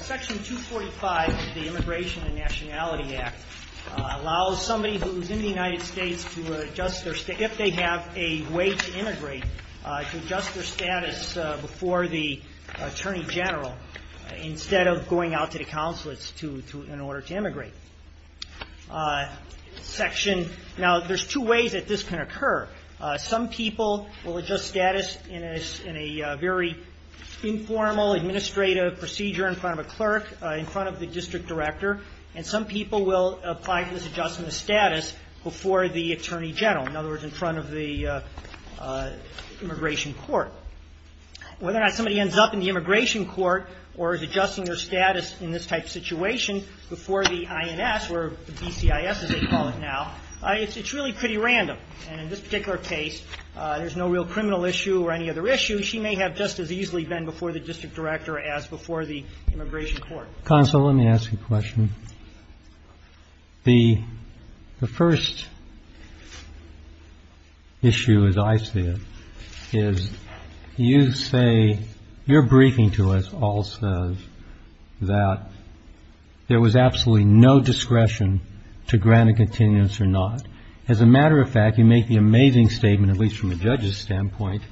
Section 245 of the Immigration and Nationality Act allows somebody who is in the United States if they have a way to immigrate to adjust their status before the Attorney General instead of going out to the consulates in order to immigrate. Section – now, there's two ways that this can occur. Some people will adjust status in a very informal administrative procedure in front of a clerk, in front of the district director, and some people will apply for this adjustment of status before the Attorney General, in other words, in front of the immigration court. Whether or not somebody ends up in the immigration court or is adjusting their status in this type of situation before the INS or the BCIS, as they call it now, it's really pretty random. And in this particular case, there's no real criminal issue or any other issue. She may have just as easily been before the district director as before the immigration court. So, counsel, let me ask you a question. The first issue, as I see it, is you say – your briefing to us all says that there was absolutely no discretion to grant a continuance or not. As a matter of fact, you make the amazing statement, at least from a judge's standpoint,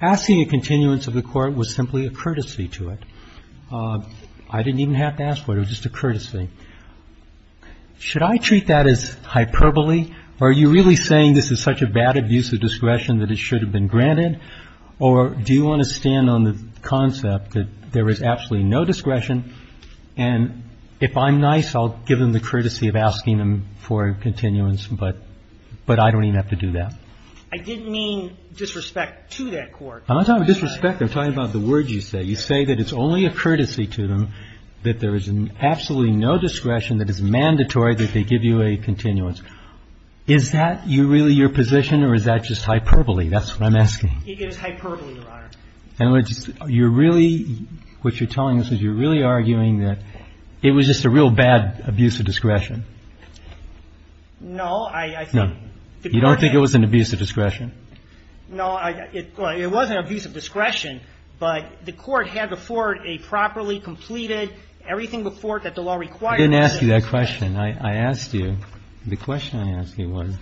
asking a continuance of the court was simply a courtesy to it. I didn't even have to ask for it. It was just a courtesy. Should I treat that as hyperbole, or are you really saying this is such a bad abuse of discretion that it should have been granted, or do you want to stand on the concept that there was absolutely no discretion, and if I'm nice, I'll give them the courtesy of asking them for a continuance, but I don't even have to do that? I didn't mean disrespect to that court. I'm not talking about disrespect. I'm talking about the words you say. You say that it's only a courtesy to them, that there is absolutely no discretion that is mandatory that they give you a continuance. Is that really your position, or is that just hyperbole? That's what I'm asking. It is hyperbole, Your Honor. And you're really – what you're telling us is you're really arguing that it was just a real bad abuse of discretion. No, I think the court had – Abuse of discretion? No, it wasn't abuse of discretion, but the court had before it a properly completed everything before it that the law required. I didn't ask you that question. I asked you – the question I asked you was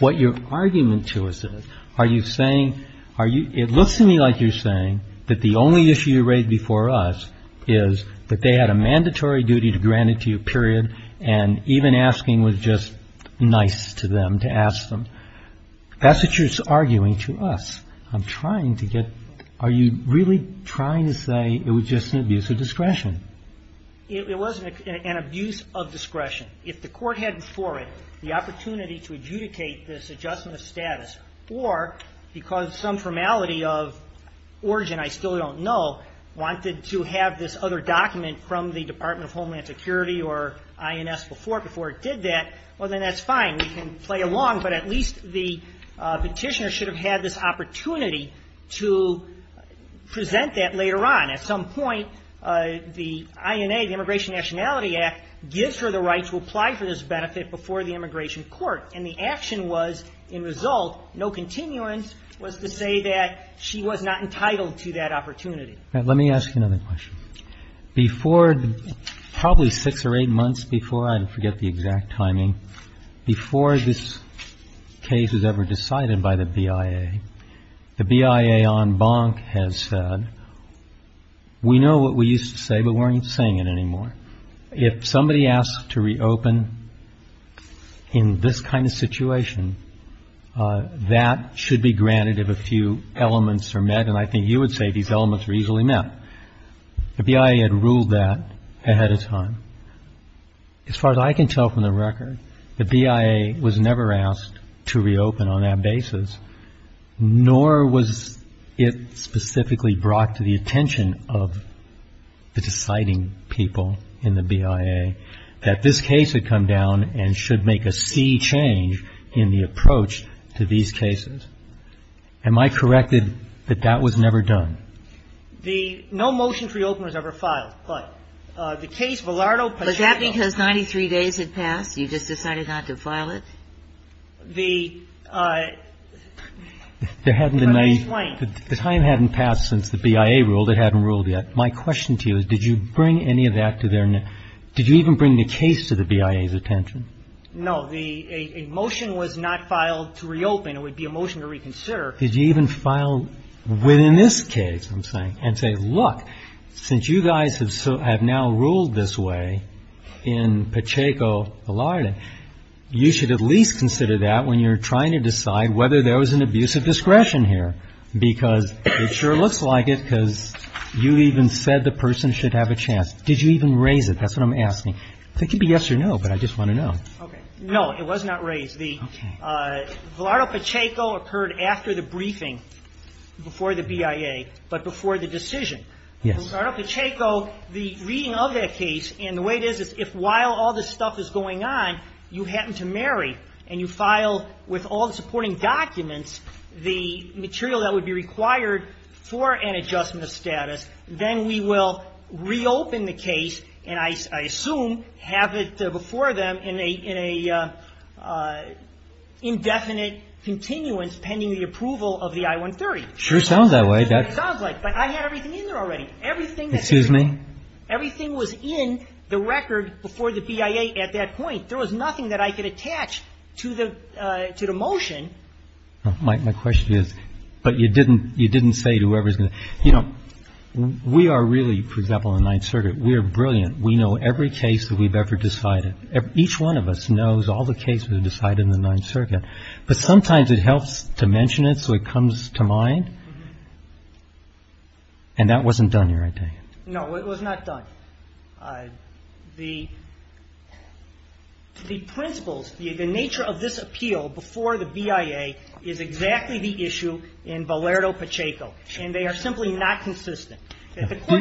what your argument to us is. Are you saying – it looks to me like you're saying that the only issue you raised before us is that they had a mandatory duty to grant it to you, and even asking was just nice to them, to ask them. That's what you're arguing to us. I'm trying to get – are you really trying to say it was just an abuse of discretion? It wasn't an abuse of discretion. If the court had before it the opportunity to adjudicate this adjustment of status, or because some formality of origin I still don't know wanted to have this other document from the Department of Homeland Security or INS before it did that, well, then that's fine. We can play along, but at least the Petitioner should have had this opportunity to present that later on. At some point, the INA, the Immigration Nationality Act, gives her the right to apply for this benefit before the immigration court, and the action was, in result, no continuance, was to say that she was not entitled to that opportunity. Let me ask you another question. Before – probably six or eight months before, I forget the exact timing, before this case was ever decided by the BIA, the BIA en banc has said, we know what we used to say, but we're not saying it anymore. If somebody asks to reopen in this kind of situation, that should be granted if a BIA had ruled that ahead of time. As far as I can tell from the record, the BIA was never asked to reopen on that basis, nor was it specifically brought to the attention of the deciding people in the BIA that this case had come down and should make a C change in the approach to these cases. Am I corrected that that was never done? The – no motion to reopen was ever filed, but the case Villardo-Pacheco Was that because 93 days had passed? You just decided not to file it? The – if I may explain. The time hadn't passed since the BIA ruled. It hadn't ruled yet. My question to you is, did you bring any of that to their – did you even bring the case to the BIA's attention? No. A motion was not filed to reopen. It would be a motion to reconsider. Did you even file within this case, I'm saying, and say, look, since you guys have now ruled this way in Pacheco-Villardo, you should at least consider that when you're trying to decide whether there was an abuse of discretion here, because it sure looks like it because you even said the person should have a chance. Did you even raise it? That's what I'm asking. It could be yes or no, but I just want to know. Okay. No, it was not raised. The – Villardo-Pacheco occurred after the briefing before the BIA, but before the decision. Yes. For Villardo-Pacheco, the reading of that case and the way it is, is if while all this stuff is going on, you happen to marry and you file with all the supporting documents the material that would be required for an adjustment of status, then we will reopen the case and I assume have it before them in a indefinite continuance pending the approval of the I-130. Sure sounds that way. It sounds like, but I had everything in there already. Excuse me? Everything was in the record before the BIA at that point. There was nothing that I could attach to the motion. My question is, but you didn't say to whoever's going to – you know, we are really, for example, in the Ninth Circuit, we are brilliant. We know every case that we've ever decided. Each one of us knows all the cases that are decided in the Ninth Circuit, but sometimes it helps to mention it so it comes to mind and that wasn't done, your idea. No, it was not done. The principles, the nature of this appeal before the BIA is exactly the issue in Valerio Pacheco and they are simply not consistent.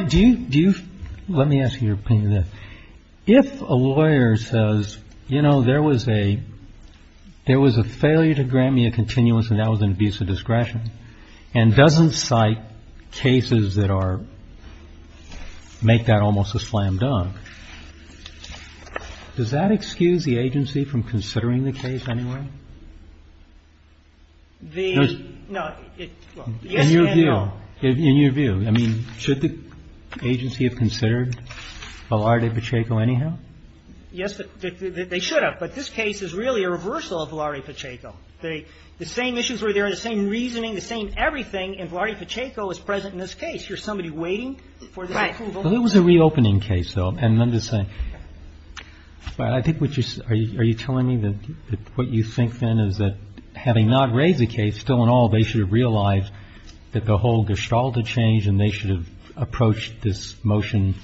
Do you – let me ask you your opinion of this. If a lawyer says, you know, there was a failure to grant me a continuance and that was an abuse of discretion and doesn't cite cases that are – make that almost a slam dunk, does that excuse the agency from considering the case anyway? The – no. In your view, in your view, I mean, should the agency have considered Valerio Pacheco anyhow? Yes, they should have, but this case is really a reversal of Valerio Pacheco. The same issues were there, the same reasoning, the same everything and Valerio Pacheco is present in this case. Here's somebody waiting for the approval. Right. Well, it was a reopening case, though, and I'm just saying – but I think what you – are you telling me that what you think, then, is that having not raised the case, still in all, they should have realized that the whole gestalt had changed and they should have approached this motion,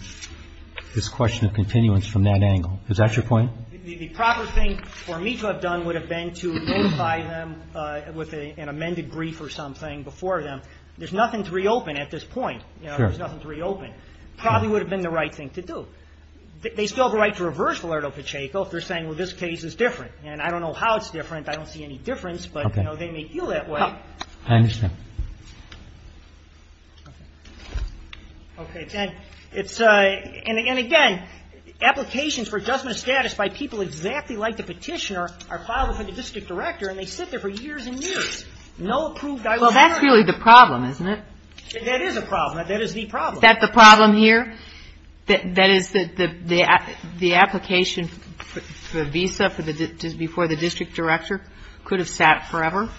this question of continuance from that angle. Is that your point? The proper thing for me to have done would have been to notify them with an amended brief or something before them. There's nothing to reopen at this point. Sure. There's nothing to reopen. Probably would have been the right thing to do. They still have a right to reverse Valerio Pacheco if they're saying, well, this case is different. And I don't know how it's different. I don't see any difference. Okay. But, you know, they may feel that way. I understand. Okay. Okay. And it's – and again, applications for adjustment of status by people exactly like the petitioner are filed with the district director and they sit there for years and years. No approved dialogue. Well, that's really the problem, isn't it? That is a problem. That is the problem. Is that the problem here? That is the application for the visa before the district director could have sat forever?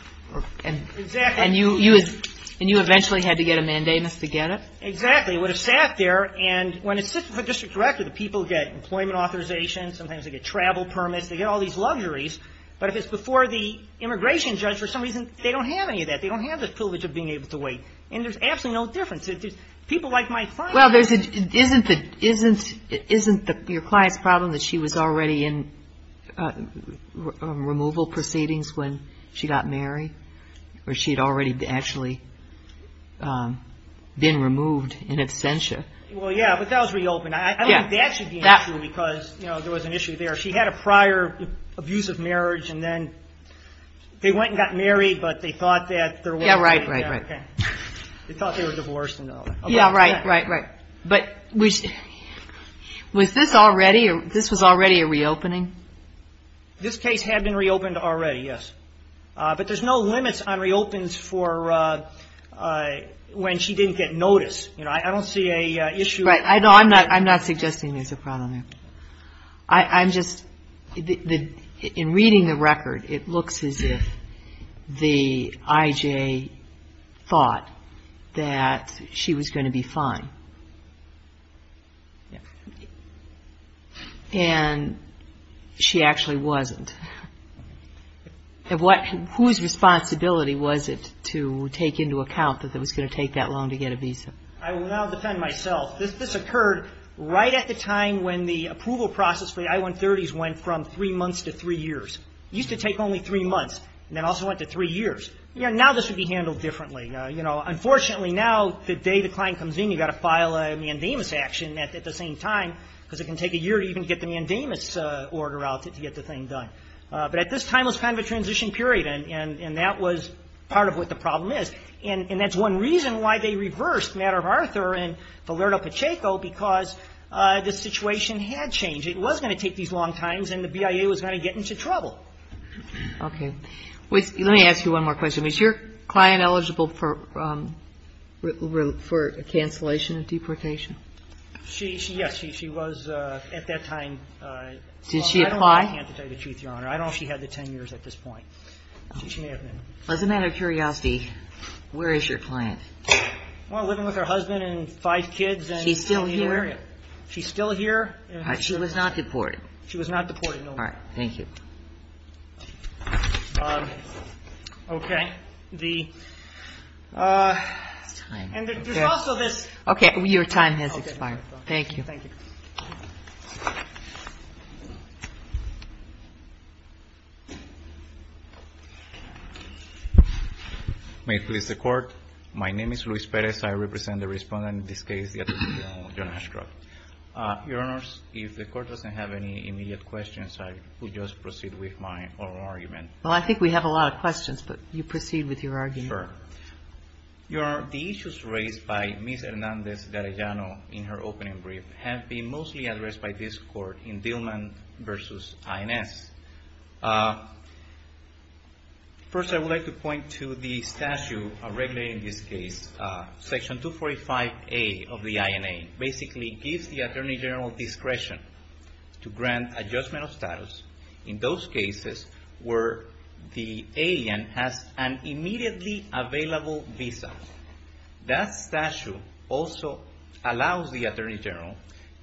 Exactly. And you eventually had to get a mandamus to get it? Exactly. It would have sat there. And when it sits before the district director, the people get employment authorization. Sometimes they get travel permits. They get all these luxuries. But if it's before the immigration judge, for some reason they don't have any of that. They don't have the privilege of being able to wait. And there's absolutely no difference. People like my client. Well, isn't your client's problem that she was already in removal proceedings when she got married? Or she had already actually been removed in absentia? Well, yeah, but that was reopened. I don't think that should be an issue because, you know, there was an issue there. She had a prior abuse of marriage and then they went and got married, but they thought that there wasn't anything there. Yeah, right, right, right. They thought they were divorced and all that. Yeah, right, right, right. But was this already a reopening? This case had been reopened already, yes. But there's no limits on reopens for when she didn't get notice. You know, I don't see an issue with that. Right. No, I'm not suggesting there's a problem there. I'm just, in reading the record, it looks as if the I.J. thought that she was going to be fine. And she actually wasn't. Whose responsibility was it to take into account that it was going to take that long to get a visa? I will now defend myself. This occurred right at the time when the approval process for the I-130s went from three months to three years. It used to take only three months and then also went to three years. You know, now this would be handled differently. You know, unfortunately now, the day the client comes in, you've got to file a mandamus action at the same time because it can take a year to even get the mandamus order out to get the thing done. But at this time, it was kind of a transition period, and that was part of what the problem is. And that's one reason why they reversed Matter of Arthur and Valerio Pacheco, because the situation had changed. It was going to take these long times, and the BIA was going to get into trouble. Okay. Let me ask you one more question. Is your client eligible for a cancellation of deportation? She, yes, she was at that time. Did she apply? I can't tell you the truth, Your Honor. I don't know if she had the 10 years at this point. She may have been. As a matter of curiosity, where is your client? Well, living with her husband and five kids. She's still here? She's still here. All right. She was not deported? She was not deported, no. All right. Thank you. Okay. The – and there's also this – Okay. Your time has expired. Okay. Thank you. Thank you. May it please the Court. My name is Luis Perez. I represent the Respondent in this case, the Attorney General John Ashcroft. Your Honors, if the Court doesn't have any immediate questions, I will just proceed with my oral argument. Well, I think we have a lot of questions, but you proceed with your argument. Sure. Your Honor, the issues raised by Ms. Hernandez-Garayano in her opening brief have been mostly addressed by this Court in Dillman v. INS. First, I would like to point to the statute regulating this case. Section 245A of the INA basically gives the Attorney General discretion to grant a judgment of status in those cases where the alien has an immediately available visa. That statute also allows the Attorney General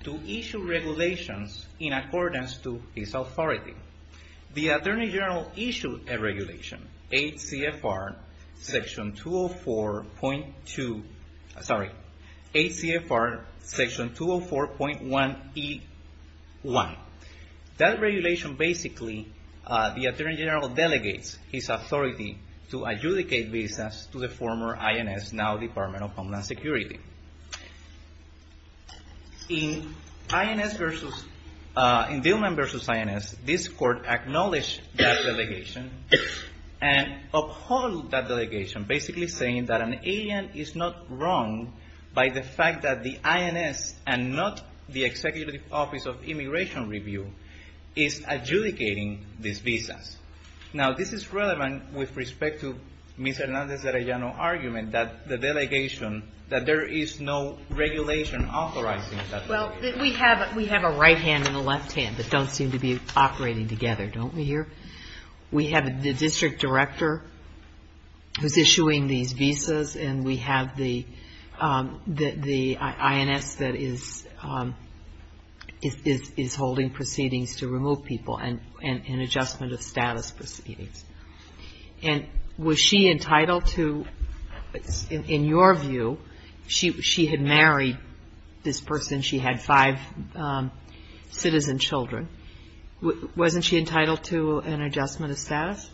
to issue regulations in accordance to his authority. The Attorney General issued a regulation, HCFR Section 204.1E1. That regulation basically – the Attorney General delegates his authority to adjudicate visas to the former INS, now Department of Homeland Security. In Dillman v. INS, this Court acknowledged that delegation and upheld that delegation, basically saying that an alien is not wrong by the fact that the INS, and not the Executive Office of Immigration Review, is adjudicating these visas. Now, this is relevant with respect to Ms. Hernandez-Garayano's argument that the delegation, that there is no regulation authorizing that delegation. Well, we have a right hand and a left hand that don't seem to be operating together, don't we here? We have the district director who's issuing these visas, and we have the INS that is holding proceedings to remove people and adjustment of status proceedings. And was she entitled to, in your view, she had married this person, she had five citizen children, wasn't she entitled to an adjustment of status?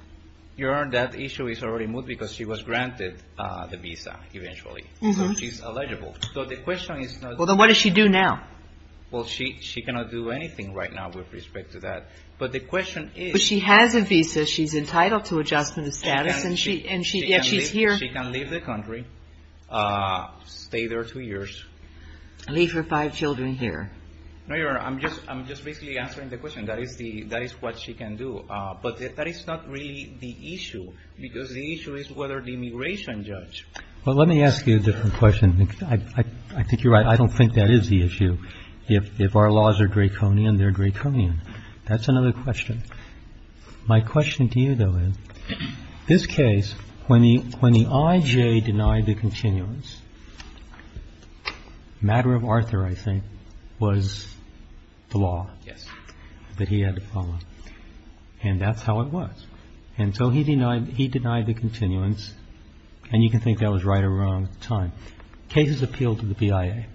Your Honor, that issue is already moved because she was granted the visa eventually. So she's eligible. So the question is – Well, then what does she do now? Well, she cannot do anything right now with respect to that. But the question is – But she has a visa. She's entitled to adjustment of status, and yet she's here. She can leave the country, stay there two years. Leave her five children here. No, Your Honor, I'm just basically answering the question. That is what she can do. But that is not really the issue, because the issue is whether the immigration judge – Well, let me ask you a different question. I think you're right. I don't think that is the issue. If our laws are draconian, they're draconian. That's another question. My question to you, though, is this case, when the IJ denied the continuance, And that's how it was. And so he denied the continuance. And you can think that was right or wrong at the time. Cases appeal to the BIA.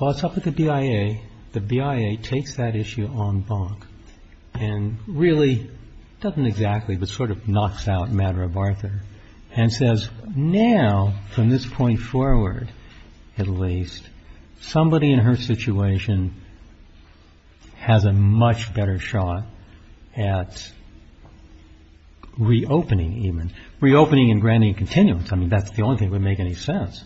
Well, it's up to the BIA. The BIA takes that issue on bonk and really doesn't exactly, but sort of knocks out Madara Bartha and says, Now, from this point forward, at least, somebody in her situation has a much better shot at reopening even. Reopening and granting a continuance. I mean, that's the only thing that would make any sense.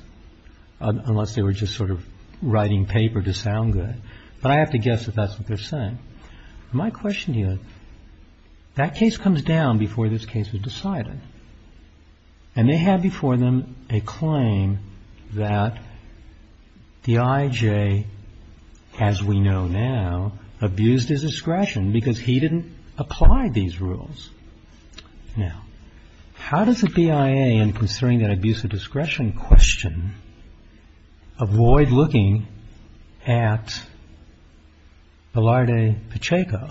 Unless they were just sort of writing paper to sound good. But I have to guess that that's what they're saying. My question to you is, that case comes down before this case is decided. And they had before them a claim that the IJ, as we know now, abused his discretion because he didn't apply these rules. Now, how does the BIA, in considering that abuse of discretion question, avoid looking at Velarde Pacheco,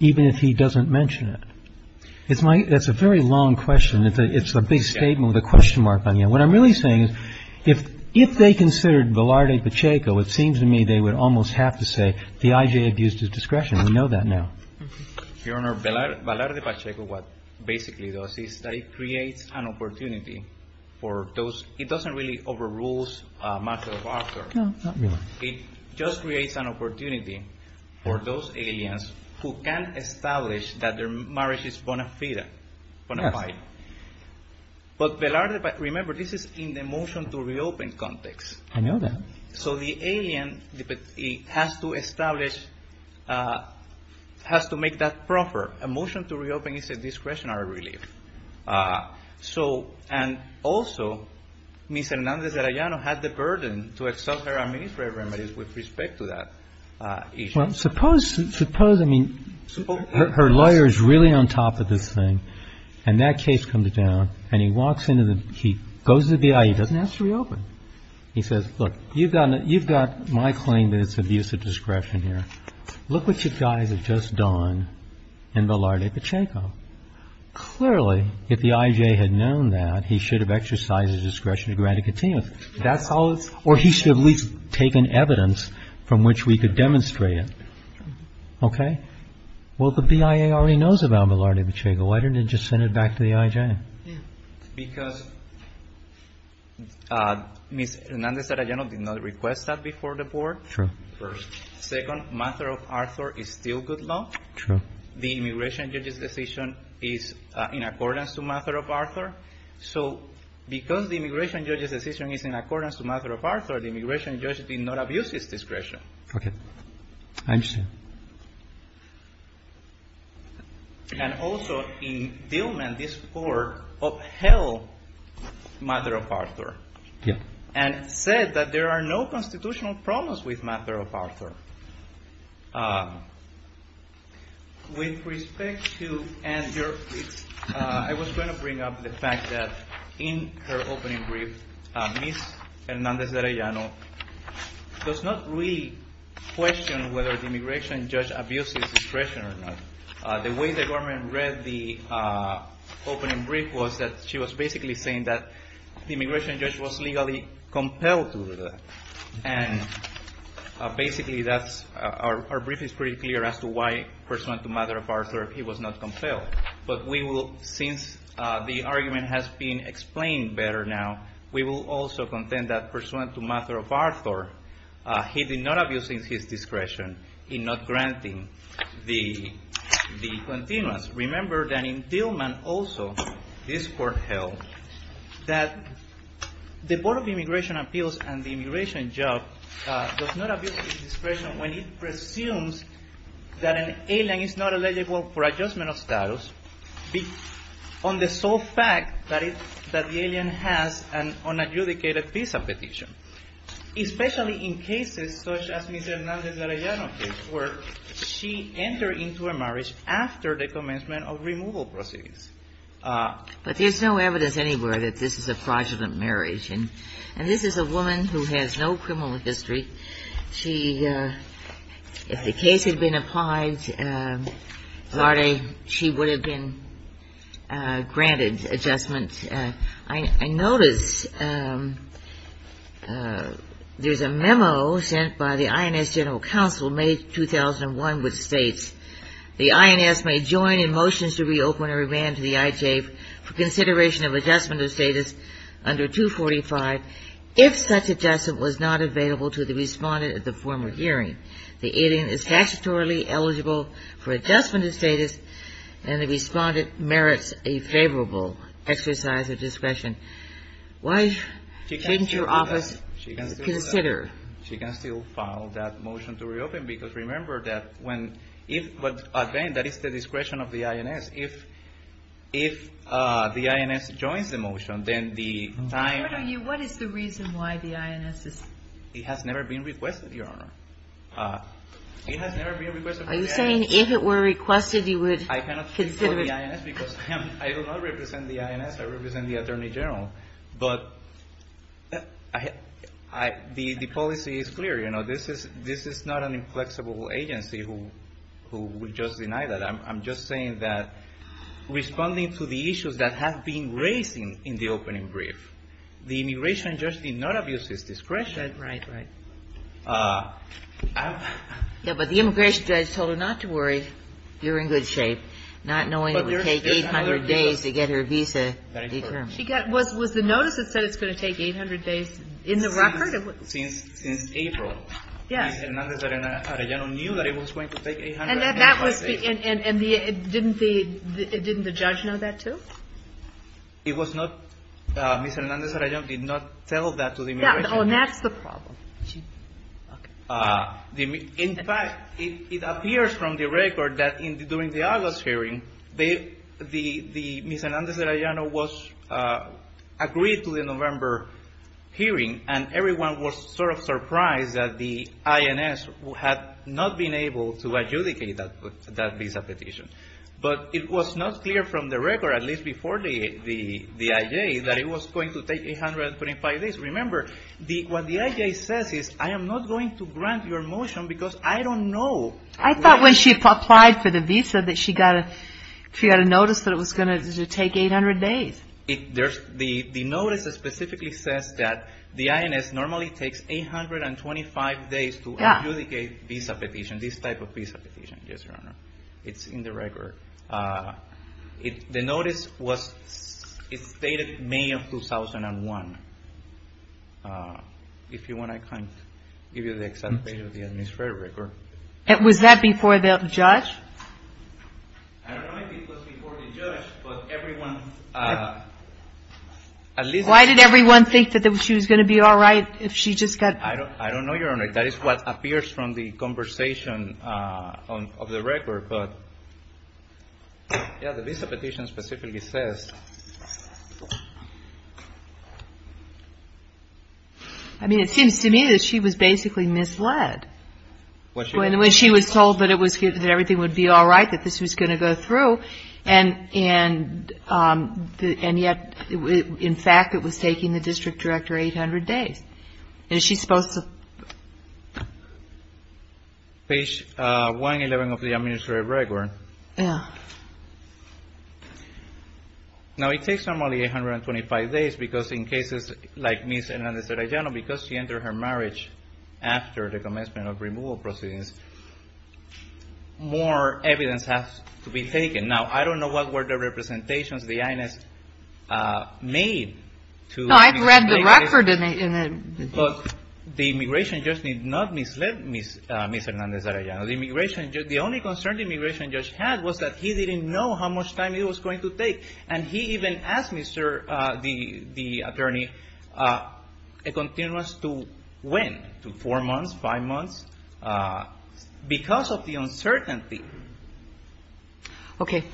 even if he doesn't mention it? It's a very long question. It's a big statement with a question mark on you. What I'm really saying is, if they considered Velarde Pacheco, it seems to me they would almost have to say the IJ abused his discretion. We know that now. Your Honor, Velarde Pacheco, what basically does is that it creates an opportunity for those. It doesn't really overrule Madara Bartha. No, not really. It just creates an opportunity for those aliens who can establish that their marriage is bona fide, bona fide. But Velarde, remember, this is in the motion to reopen context. I know that. So the alien has to establish, has to make that proffer. A motion to reopen is a discretionary relief. So, and also, Ms. Hernandez-Arayano had the burden to exalt her administrative remedies with respect to that issue. Well, suppose, suppose, I mean, her lawyer is really on top of this thing, and that case comes down, and he walks in and he goes to the BIA. He doesn't have to reopen. He says, look, you've got my claim that it's abuse of discretion here. Look what you guys have just done in Velarde Pacheco. Clearly, if the IJ had known that, he should have exercised his discretion to grant a continuity. That's all. Or he should have at least taken evidence from which we could demonstrate it. Okay. Well, the BIA already knows about Velarde Pacheco. Why didn't they just send it back to the IJ? Because Ms. Hernandez-Arayano did not request that before the board. True. First. Second, Madara Bartha is still good law. True. The immigration judge's decision is in accordance to Madara Bartha. So because the immigration judge's decision is in accordance to Madara Bartha, the immigration judge did not abuse his discretion. Okay. I understand. And also, in Dillman, this Court upheld Madara Bartha. Yes. And said that there are no constitutional problems with Madara Bartha. With respect to Andrea, I was going to bring up the fact that in her opening brief, Ms. Hernandez-Arayano does not really question whether the immigration judge abuses discretion or not. The way the government read the opening brief was that she was basically saying that the immigration judge was legally compelled to do that. And basically, our brief is pretty clear as to why, pursuant to Madara Bartha, he was not compelled. But since the argument has been explained better now, we will also contend that, pursuant to Madara Bartha, he did not abuse his discretion in not granting the continuance. Remember that in Dillman also, this Court held that the Board of Immigration Appeals and the immigration judge does not abuse his discretion when he presumes that an alien is not eligible for adjustment of status on the sole fact that the alien has an unadjudicated visa petition. Especially in cases such as Ms. Hernandez-Arayano's case where she entered into a marriage after the commencement of removal proceedings. But there's no evidence anywhere that this is a fraudulent marriage. And this is a woman who has no criminal history. She – if the case had been applied, Larde, she would have been granted adjustment. I notice there's a memo sent by the INS General Counsel, May 2001, which states, the INS may join in motions to reopen or revamp the IJF for consideration of adjustment of status under 245 if such adjustment was not available to the respondent at the former hearing. The alien is statutorily eligible for adjustment of status and the respondent merits a favorable exercise of discretion. Why shouldn't your office consider? She can still file that motion to reopen because remember that when – if – but again, that is the discretion of the INS. If the INS joins the motion, then the time – What is the reason why the INS is – It has never been requested, Your Honor. It has never been requested by the INS. Are you saying if it were requested, you would consider it? I cannot speak for the INS because I do not represent the INS. I represent the Attorney General. But the policy is clear. You know, this is not an inflexible agency who would just deny that. I'm just saying that responding to the issues that have been raised in the opening brief, the immigration judge did not abuse his discretion. Right, right. Yeah, but the immigration judge told her not to worry. You're in good shape. Not knowing it would take 800 days to get her visa determined. Was the notice that said it's going to take 800 days in the record? Since April. Yes. Ms. Hernandez-Arellano knew that it was going to take 800 days. And that was the – and didn't the judge know that, too? Yeah. Oh, and that's the problem. Okay. In fact, it appears from the record that during the August hearing, the Ms. Hernandez-Arellano was agreed to the November hearing, and everyone was sort of surprised that the INS had not been able to adjudicate that visa petition. But it was not clear from the record, at least before the I.J., that it was going to take 825 days. Remember, what the I.J. says is, I am not going to grant your motion because I don't know. I thought when she applied for the visa that she got a notice that it was going to take 800 days. The notice specifically says that the INS normally takes 825 days to adjudicate visa petition, this type of visa petition, yes, Your Honor. It's in the record. The notice was – it's dated May of 2001. If you want, I can give you the exact date of the administrative record. Was that before the judge? I don't know if it was before the judge, but everyone – Why did everyone think that she was going to be all right if she just got – I don't know, Your Honor. That is what appears from the conversation of the record. But, yes, the visa petition specifically says – I mean, it seems to me that she was basically misled when she was told that everything would be all right, that this was going to go through. And yet, in fact, it was taking the district director 800 days. Is she supposed to – Page 111 of the administrative record. Yes. Now, it takes normally 825 days because in cases like Ms. Hernandez-Sarayano, because she entered her marriage after the commencement of removal proceedings, more evidence has to be taken. Now, I don't know what were the representations the INS made to – No, I've read the record. But the immigration judge did not mislead Ms. Hernandez-Sarayano. The immigration judge – the only concern the immigration judge had was that he didn't know how much time it was going to take. And he even asked Mr. – the attorney a continuous to when, to four months, five months, because of the uncertainty. Okay.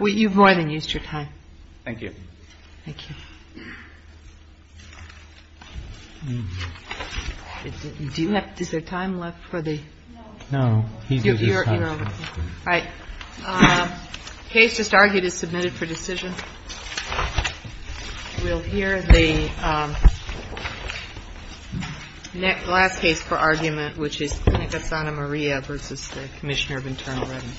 You've more than used your time. Thank you. Thank you. Do you have – is there time left for the – No. No. You're over. All right. The case just argued is submitted for decision. We'll hear the last case for argument, which is the Clinic of Santa Maria v. Commissioner of Internal Revenue. Thank you.